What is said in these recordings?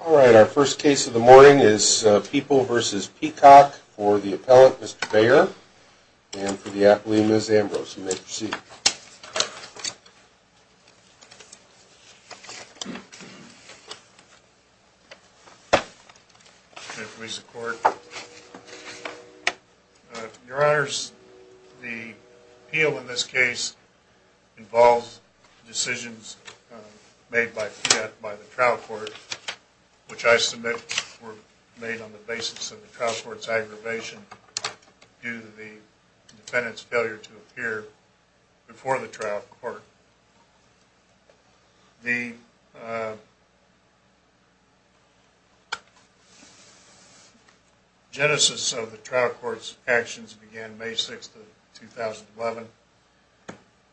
Alright, our first case of the morning is People v. Peacock for the appellate, Mr. Bayer, and for the apple, Ms. Ambrose. You may proceed. Your Honors, the appeal in this case involves decisions made by the trial court, which I submit were made on the basis of the trial court's aggravation due to the defendant's failure to appear before the trial court. The genesis of the trial court's actions began May 6, 2011,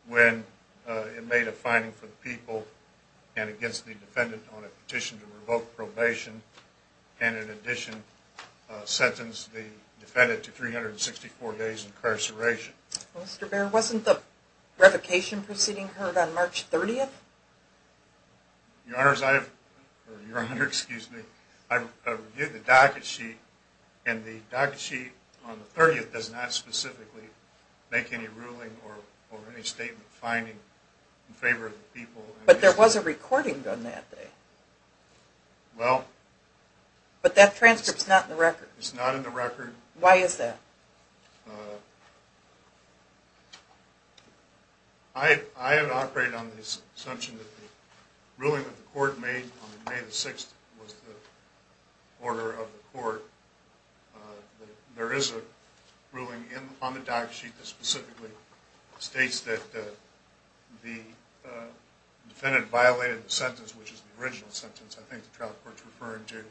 when it made a finding for the People and against the defendant on a petition to revoke probation and, in addition, sentenced the defendant to 364 days incarceration. Mr. Bayer, wasn't the revocation proceeding heard on March 30? Your Honors, I've reviewed the docket sheet, and the docket sheet on the 30th does not specifically make any ruling or any statement finding in favor of the People. But there was a recording done that day. Well... But that transcript's not in the record. It's not in the record. Why is that? I have operated on the assumption that the ruling that the court made on May 6 was the order of the court. There is a ruling on the docket sheet that specifically states that the defendant violated the sentence, which is the original sentence I think the trial court's referring to,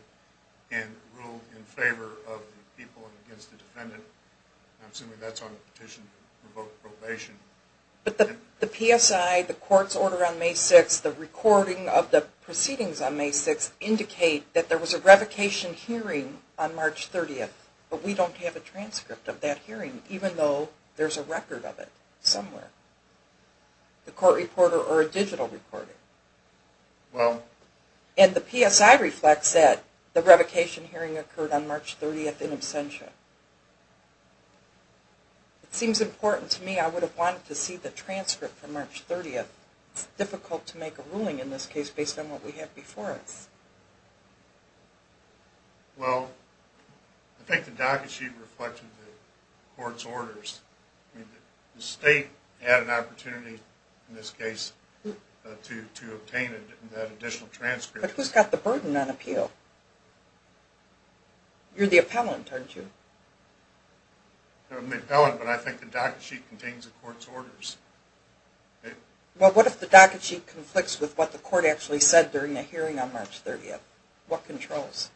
and ruled in favor of the People and against the defendant. I'm assuming that's on the petition to revoke probation. But the PSI, the court's order on May 6, the recording of the proceedings on May 6, indicate that there was a revocation hearing on March 30. But we don't have a transcript of that hearing, even though there's a record of it somewhere. The court reporter or a digital recorder. Well... And the PSI reflects that the revocation hearing occurred on March 30 in absentia. It seems important to me. I would have wanted to see the transcript for March 30. It's difficult to make a ruling in this case based on what we have before us. Well, I think the docket sheet reflected the court's orders. The state had an opportunity in this case to obtain that additional transcript. But who's got the burden on appeal? You're the appellant, aren't you? No, I'm the appellant, but I think the docket sheet contains the court's orders. Well, what if the docket sheet conflicts with what the court actually said during the hearing on March 30? What controls?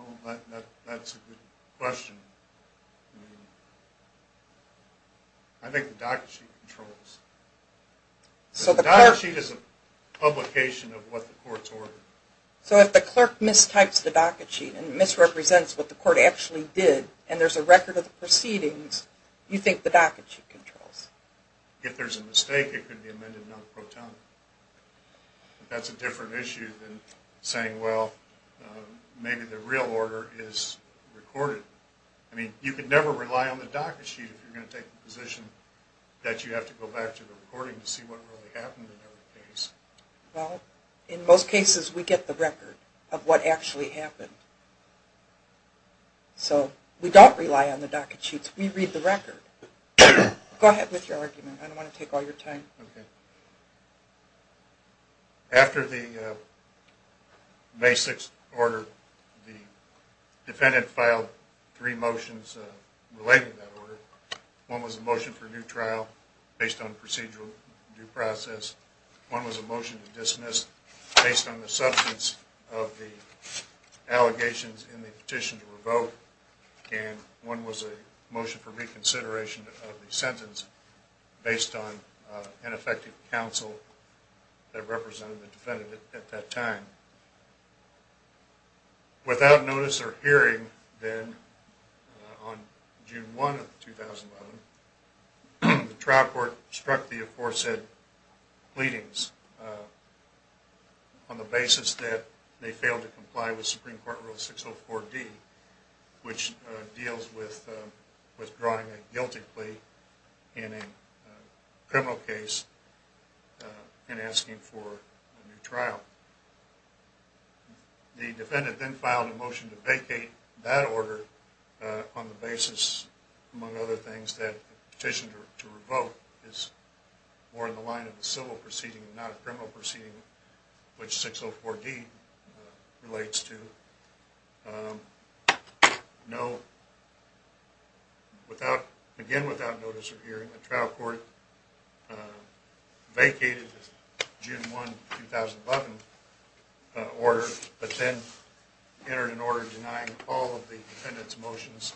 Oh, that's a good question. I think the docket sheet controls. The docket sheet is a publication of what the court's order. So if the clerk mistypes the docket sheet and misrepresents what the court actually did and there's a record of the proceedings, you think the docket sheet controls? If there's a mistake, it could be amended non-protonically. That's a different issue than saying, well, maybe the real order is recorded. I mean, you could never rely on the docket sheet if you're going to take the position that you have to go back to the recording to see what really happened in every case. Well, in most cases, we get the record of what actually happened. So we don't rely on the docket sheets. We read the record. Go ahead with your argument. I don't want to take all your time. Okay. After the May 6th order, the defendant filed three motions related to that order. One was a motion for a new trial based on procedural due process. One was a motion to dismiss based on the substance of the allegations in the petition to revoke. And one was a motion for reconsideration of the sentence based on ineffective counsel that represented the defendant at that time. Without notice or hearing, then, on June 1 of 2011, the trial court struck the aforesaid pleadings on the basis that they failed to comply with Supreme Court Rule 604D, which deals with withdrawing a guilty plea in a criminal case and asking for a new trial. The defendant then filed a motion to vacate that order on the basis, among other things, that the petition to revoke is more in the line of a civil proceeding and not a criminal proceeding, which 604D relates to. Again, without notice or hearing, the trial court vacated the June 1, 2011, order but then entered an order denying all of the defendant's motions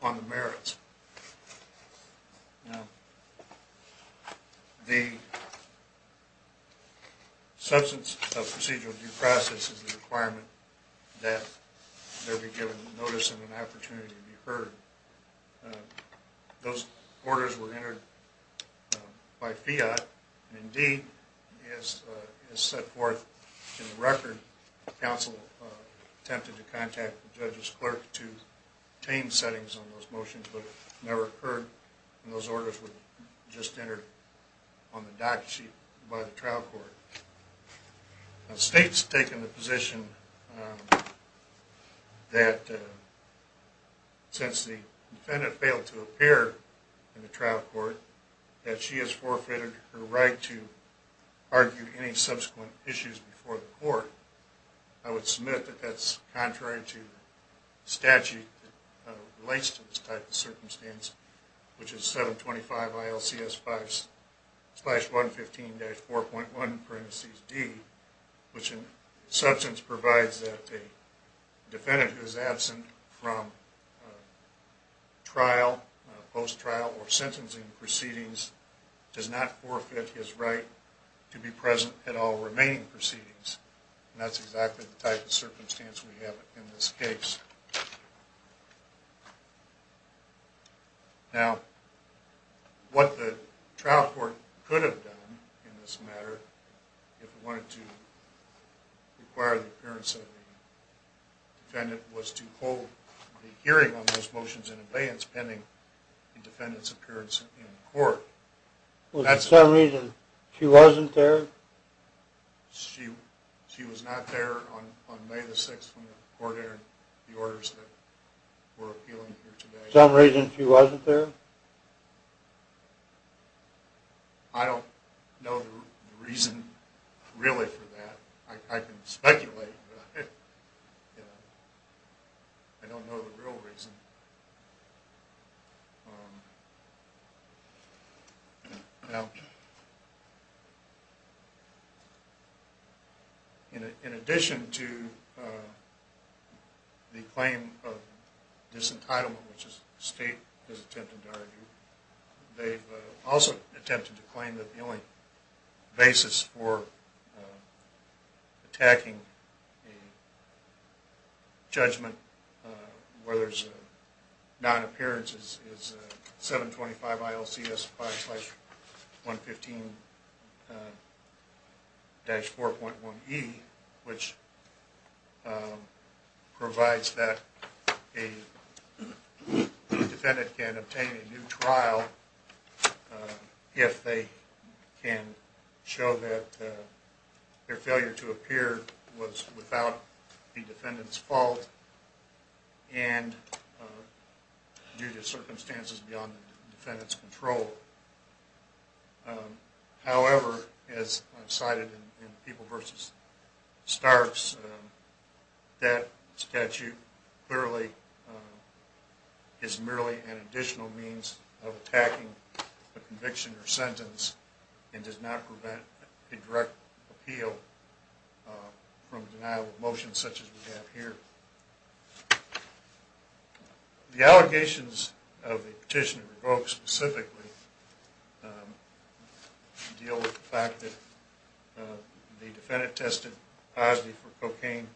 on the merits. Now, the substance of procedural due process is the requirement that there be given notice and an opportunity to be heard. Those orders were entered by fiat, and indeed, as set forth in the record, counsel attempted to contact the judge's clerk to obtain settings on those motions, but it never occurred, and those orders were just entered on the docket sheet by the trial court. Now, the state's taken the position that since the defendant failed to appear in the trial court, that she has forfeited her right to argue any subsequent issues before the court. I would submit that that's contrary to the statute that relates to this type of circumstance, which is 725 ILCS 5-115-4.1-D, which in substance provides that a defendant who is absent from trial, post-trial, or sentencing proceedings does not forfeit his right to be present at all remaining proceedings. And that's exactly the type of circumstance we have in this case. Now, what the trial court could have done in this matter, if it wanted to require the appearance of the defendant, was to hold the hearing on those motions in abeyance pending the defendant's appearance in court. Was there some reason she wasn't there? She was not there on May the 6th when the court entered the orders that were appealing here today. Some reason she wasn't there? I don't know the reason really for that. I can speculate, but I don't know the real reason. Now, in addition to the claim of disentitlement, which the state has attempted to argue, they've also attempted to claim that the only basis for attacking a judgment where there's non-appearance is 725 ILCS 5-115-4.1e, which provides that a defendant can obtain a new trial if they can show that their failure to appear was without the defendant's fault and due to circumstances beyond the defendant's control. However, as I've cited in People v. Starks, that statute clearly is merely an additional means of attacking a conviction or sentence and does not prevent a direct appeal from a denial of motion such as we have here. The allegations of the petitioner revoked specifically deal with the fact that the defendant tested positive for cocaine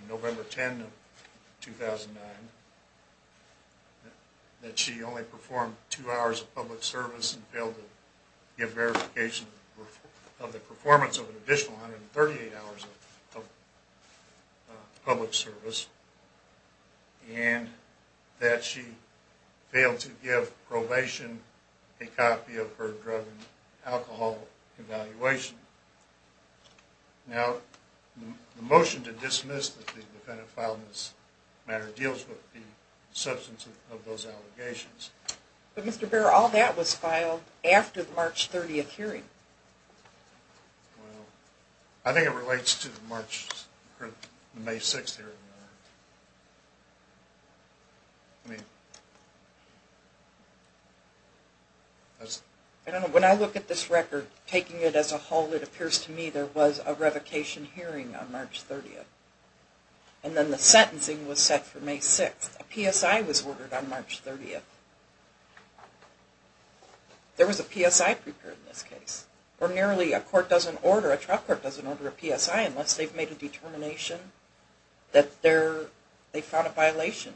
on November 10, 2009, that she only performed two hours of public service and failed to give verification of the performance of an additional 138 hours of public service, and that she failed to give probation a copy of her drug and alcohol evaluation. Now, the motion to dismiss that the defendant filed in this matter deals with the substance of those allegations. But Mr. Behr, all that was filed after the March 30th hearing. I think it relates to the May 6th hearing. When I look at this record, taking it as a whole, it appears to me there was a revocation hearing on March 30th. And then the sentencing was set for May 6th. A PSI was ordered on March 30th. There was a PSI prepared in this case. Or nearly, a court doesn't order, a trial court doesn't order a PSI unless they've made a determination that they found a violation.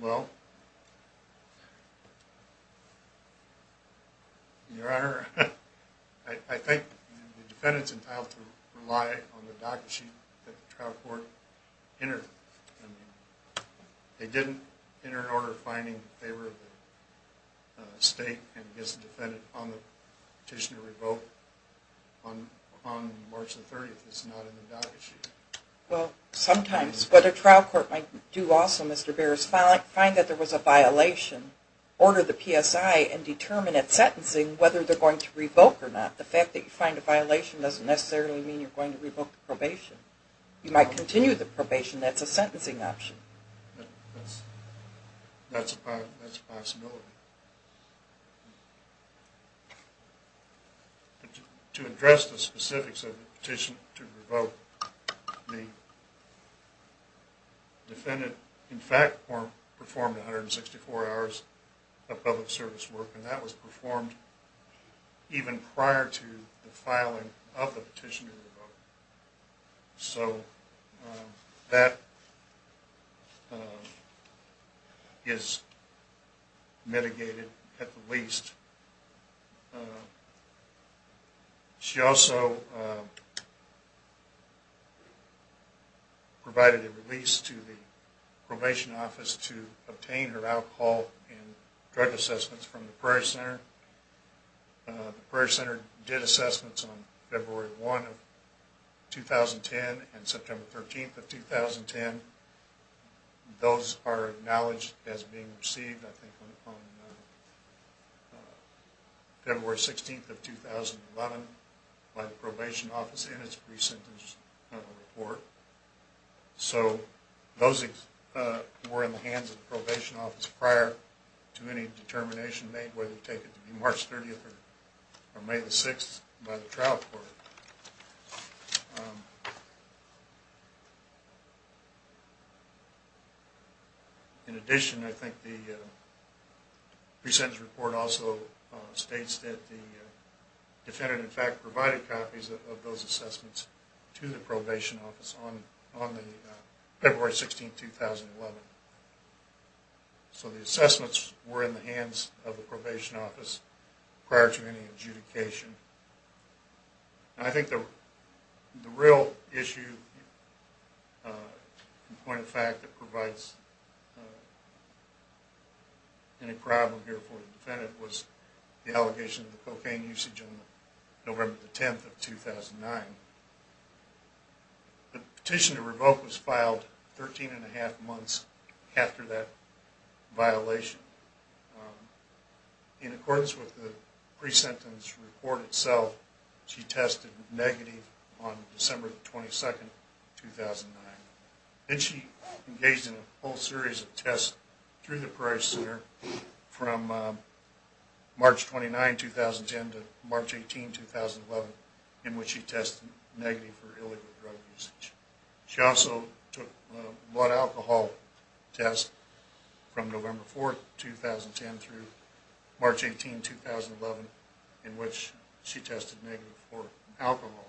Well... Your Honor, I think the defendant's entitled to rely on the docket sheet that the trial court entered. They didn't enter an order finding in favor of the State and against the defendant on the petition to revoke on March 30th. It's not in the docket sheet. Well, sometimes. But a trial court might do also, Mr. Behr, find that there was a violation, order the PSI, and determine at sentencing whether they're going to revoke or not. The fact that you find a violation doesn't necessarily mean you're going to revoke the probation. You might continue the probation, that's a sentencing option. That's a possibility. To address the specifics of the petition to revoke, the defendant in fact performed 164 hours of public service work, and that was performed even prior to the filing of the petition to revoke. So that is mitigated at the least. She also provided a release to the probation office to obtain her alcohol and drug assessments from the Prairie Center. The Prairie Center did assessments on February 1st, 2010, and September 13th, 2010. Those are acknowledged as being received on February 16th, 2011, by the probation office in its recent report. So those were in the hands of the probation office prior to any determination made whether to take it to be March 30th or May 6th by the trial court. In addition, I think the pre-sentence report also states that the defendant in fact provided copies of those assessments to the probation office on February 16th, 2011. So the assessments were in the hands of the probation office prior to any adjudication. I think the real issue and point of fact that provides any problem here for the defendant was the allegation of cocaine usage on November 10th, 2009. The petition to revoke was filed 13 and a half months after that violation. In accordance with the pre-sentence report itself, she tested negative on December 22nd, 2009. Then she engaged in a whole series of tests through the Prairie Center from March 29th, 2010 to March 18th, 2011 in which she tested negative for illegal drug usage. She also took a blood alcohol test from November 4th, 2010 through March 18th, 2011 in which she tested negative for alcohol.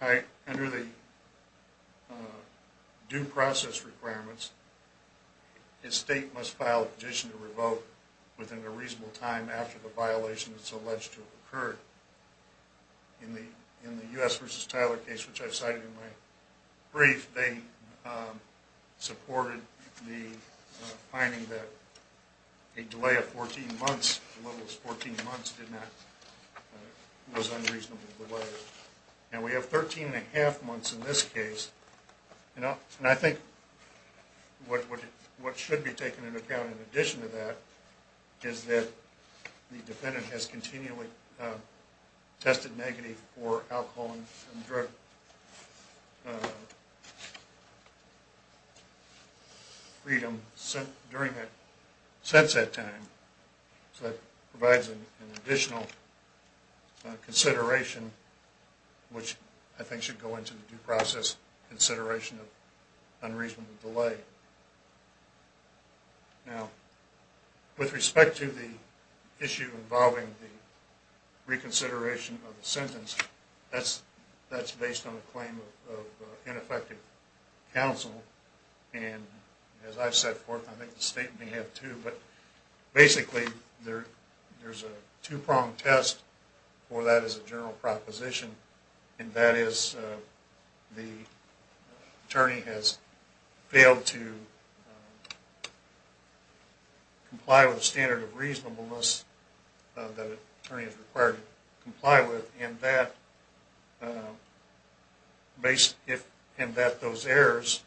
Under the due process requirements, a state must file a petition to revoke within a reasonable time after the violation that's alleged to have occurred. In the U.S. v. Tyler case which I cited in my brief, they supported the finding that a delay of 14 months, the level was 14 months, was unreasonable delay. We have 13 and a half months in this case. I think what should be taken into account in addition to that is that the defendant has continually tested negative for alcohol and drug freedom since that time. So that provides an additional consideration which I think should go into the due process consideration of unreasonable delay. Now, with respect to the issue involving the reconsideration of the sentence, that's based on the claim of ineffective counsel. And as I've set forth, I think the state may have too, but basically there's a two-pronged test for that as a general proposition. And that is the attorney has failed to comply with the standard of reasonableness that an attorney is required to comply with. And that those errors,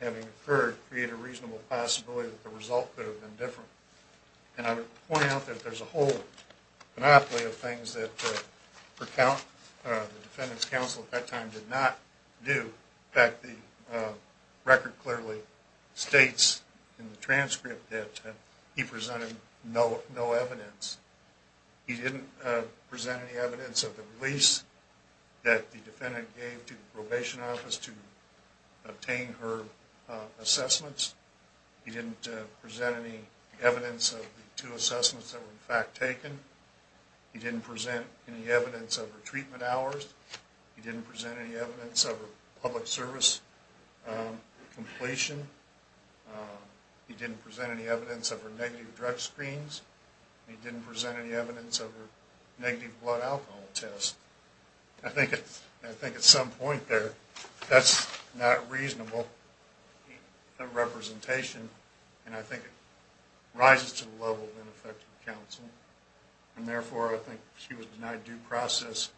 having occurred, create a reasonable possibility that the result could have been different. And I would point out that there's a whole monopoly of things that the defendant's counsel at that time did not do. In fact, the record clearly states in the transcript that he presented no evidence. He didn't present any evidence of the release that the defendant gave to the probation office to obtain her assessments. He didn't present any evidence of the two assessments that were in fact taken. He didn't present any evidence of her treatment hours. He didn't present any evidence of her public service completion. He didn't present any evidence of her negative drug screens. He didn't present any evidence of her negative blood alcohol test. I think at some point there, that's not reasonable representation, and I think it rises to the level of ineffective counsel. And therefore, I think she was denied due process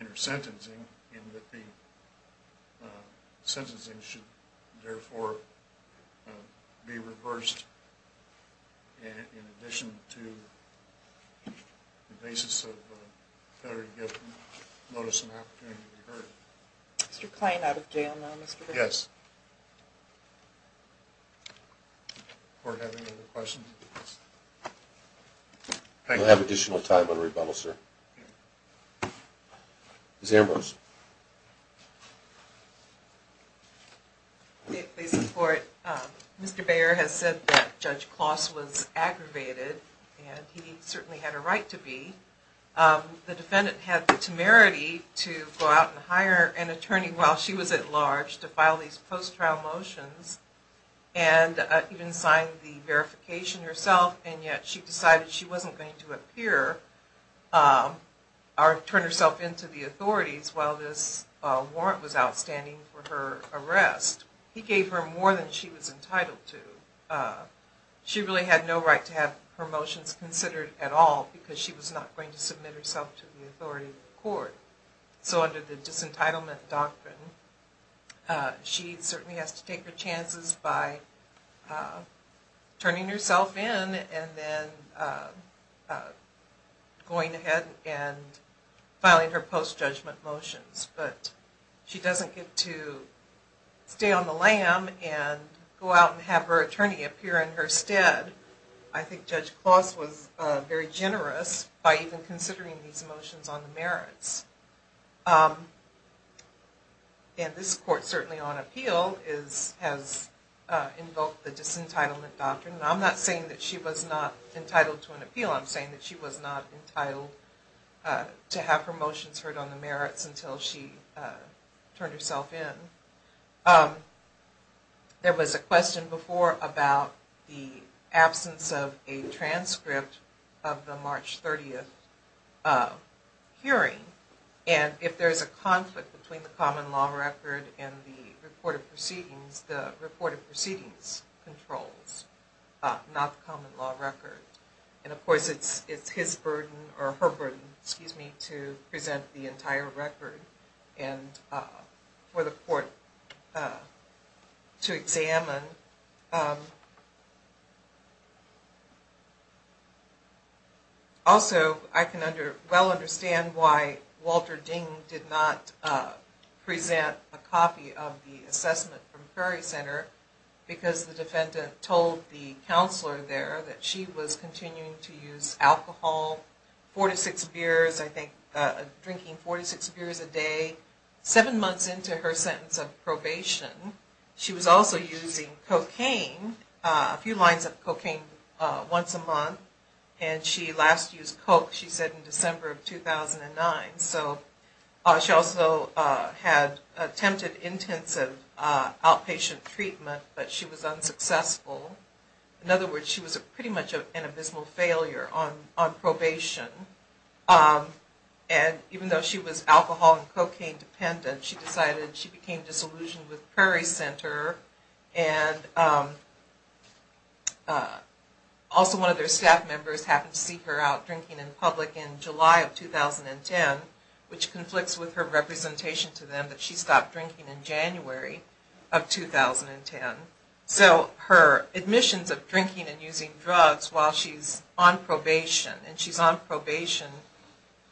in her sentencing and that the sentencing should, therefore, be reversed in addition to the basis of a federally given notice and opportunity to be heard. Mr. Klain, out of jail now. Yes. Does the court have any other questions? We'll have additional time on rebuttal, sir. Ms. Ambrose. May it please the court, Mr. Baer has said that Judge Kloss was aggravated and he certainly had a right to be. The defendant had the temerity to go out and hire an attorney while she was at large to file these post-trial motions and even sign the verification herself, and yet she decided she wasn't going to appear or turn herself into the authorities while this warrant was outstanding for her arrest. He gave her more than she was entitled to. She really had no right to have her motions considered at all because she was not going to submit herself to the authority of the court. So under the disentitlement doctrine, she certainly has to take her chances by turning herself in and then going ahead and filing her post-judgment motions, but she doesn't get to stay on the lam and go out and have her attorney appear in her stead. I think Judge Kloss was very generous by even considering these motions on the merits. And this court certainly on appeal has invoked the disentitlement doctrine, and I'm not saying that she was not entitled to an appeal. I'm saying that she was not entitled to have her motions heard on the merits until she turned herself in. There was a question before about the absence of a transcript of the March 30th hearing, and if there's a conflict between the common law record and the reported proceedings, the reported proceedings controls, not the common law record. And of course it's his burden or her burden, excuse me, to present the entire record and for the court to examine. Also, I can well understand why Walter Ding did not present a copy of the assessment from Ferry Center because the defendant told the counselor there that she was continuing to use alcohol, four to six beers, I think drinking four to six beers a day, seven months into her sentence of probation. She was also using cocaine, a few lines of cocaine once a month, and she last used coke, she said, in December of 2009. So she also had attempted intensive outpatient treatment, but she was unsuccessful. In other words, she was pretty much an abysmal failure on probation. And even though she was alcohol and cocaine dependent, she decided she became disillusioned with Ferry Center. And also one of their staff members happened to see her out drinking in public in July of 2010, which conflicts with her representation to them that she stopped drinking in January of 2010. So her admissions of drinking and using drugs while she's on probation, and she's on probation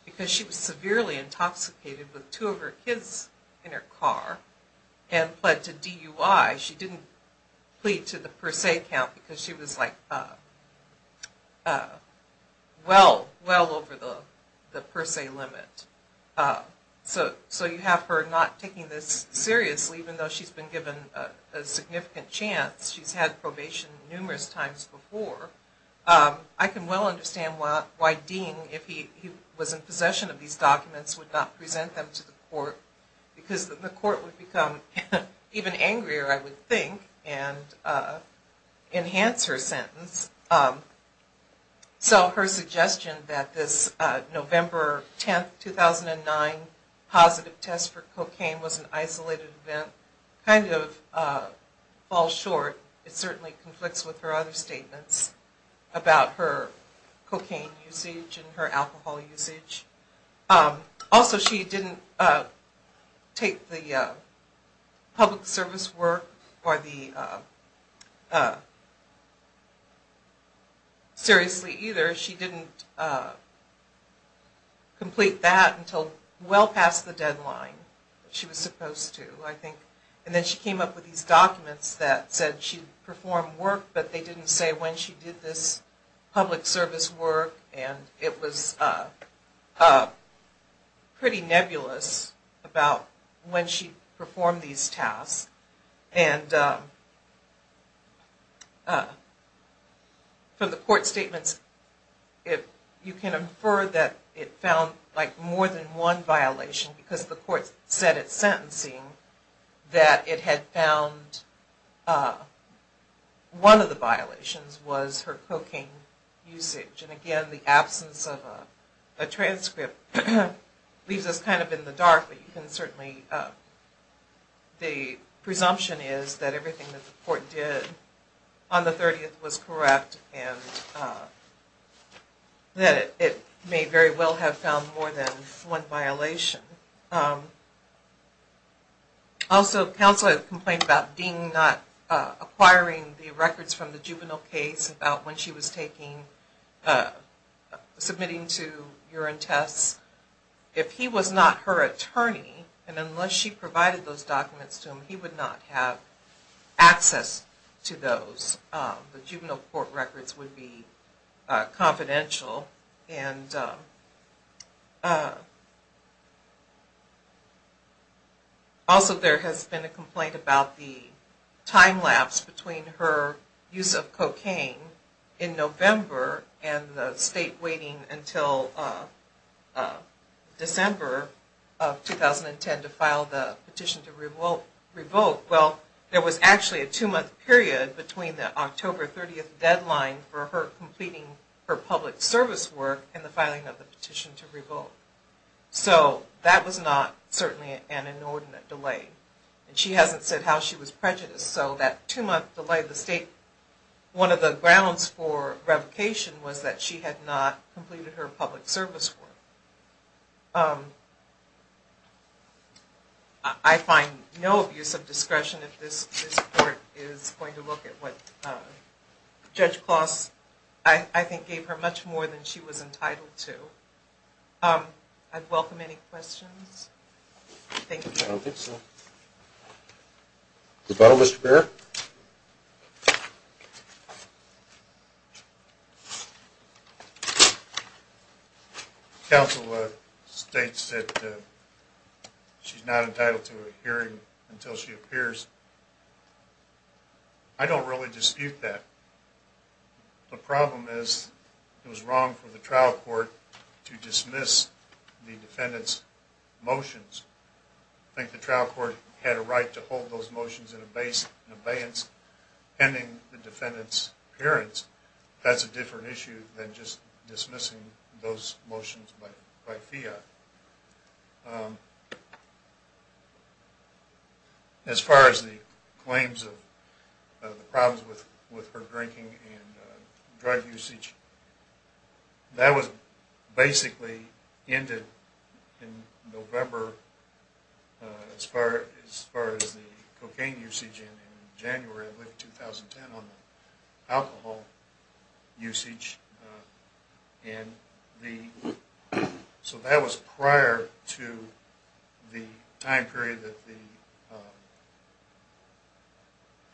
because she was severely intoxicated with two of her kids in her car and pled to DUI. She didn't plead to the per se count because she was like well over the per se limit. So you have her not taking this seriously even though she's been given a significant chance. She's had probation numerous times before. I can well understand why Dean, if he was in possession of these documents, would not present them to the court because the court would become even angrier, I would think, and enhance her sentence. So her suggestion that this November 10, 2009 positive test for cocaine was an isolated event kind of falls short. It certainly conflicts with her other statements about her cocaine usage and her alcohol usage. Also, she didn't take the public service work seriously either. She didn't complete that until well past the deadline that she was supposed to, I think. And then she came up with these documents that said she performed work, but they didn't say when she did this public service work. And it was pretty nebulous about when she performed these tasks. And from the court statements, you can infer that it found like more than one violation because the court said at sentencing that it had found one of the violations was her cocaine usage. And again, the absence of a transcript leaves us kind of in the dark, but you can certainly, the presumption is that everything that the court did on the 30th was correct and that it may very well have found more than one violation. Also, counsel had complained about Dean not acquiring the records from the juvenile case about when she was submitting to urine tests. If he was not her attorney, and unless she provided those documents to him, he would not have access to those. The juvenile court records would be confidential. And also there has been a complaint about the time lapse between her use of cocaine in November and the state waiting until December of 2010 to file the petition to revoke. Well, there was actually a two-month period between the October 30th deadline for her completing her public service work and the filing of the petition to revoke. So that was not certainly an inordinate delay. And she hasn't said how she was prejudiced. So that two-month delay at the state, one of the grounds for revocation was that she had not completed her public service work. I find no abuse of discretion if this court is going to look at what Judge Kloss, I think, gave her much more than she was entitled to. I'd welcome any questions. Thank you. I don't think so. Mr. Barrett? Counsel states that she's not entitled to a hearing until she appears. I don't really dispute that. The problem is it was wrong for the trial court to dismiss the defendant's motions. I think the trial court had a right to hold those motions in abeyance, pending the defendant's appearance. That's a different issue than just dismissing those motions by fiat. As far as the claims of the problems with her drinking and drug usage, that was basically ended in November. As far as the cocaine usage in January of 2010 on the alcohol usage. So that was prior to the time period that the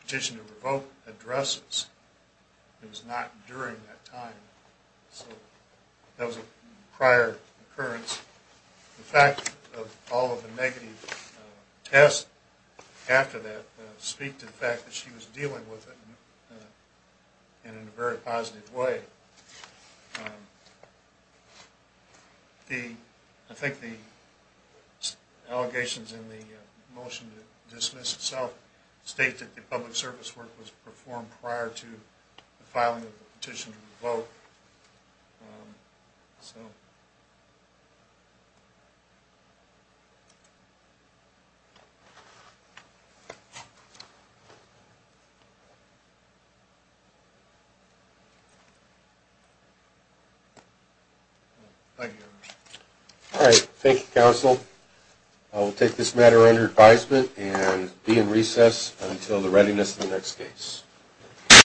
petition to revoke addresses. It was not during that time. So that was a prior occurrence. The fact of all of the negative tests after that speak to the fact that she was dealing with it in a very positive way. I think the allegations in the motion to dismiss itself state that the public service work was performed prior to the filing of the petition to revoke. Thank you. All right. Thank you, counsel. I will take this matter under advisement and be in recess until the readiness of the next case.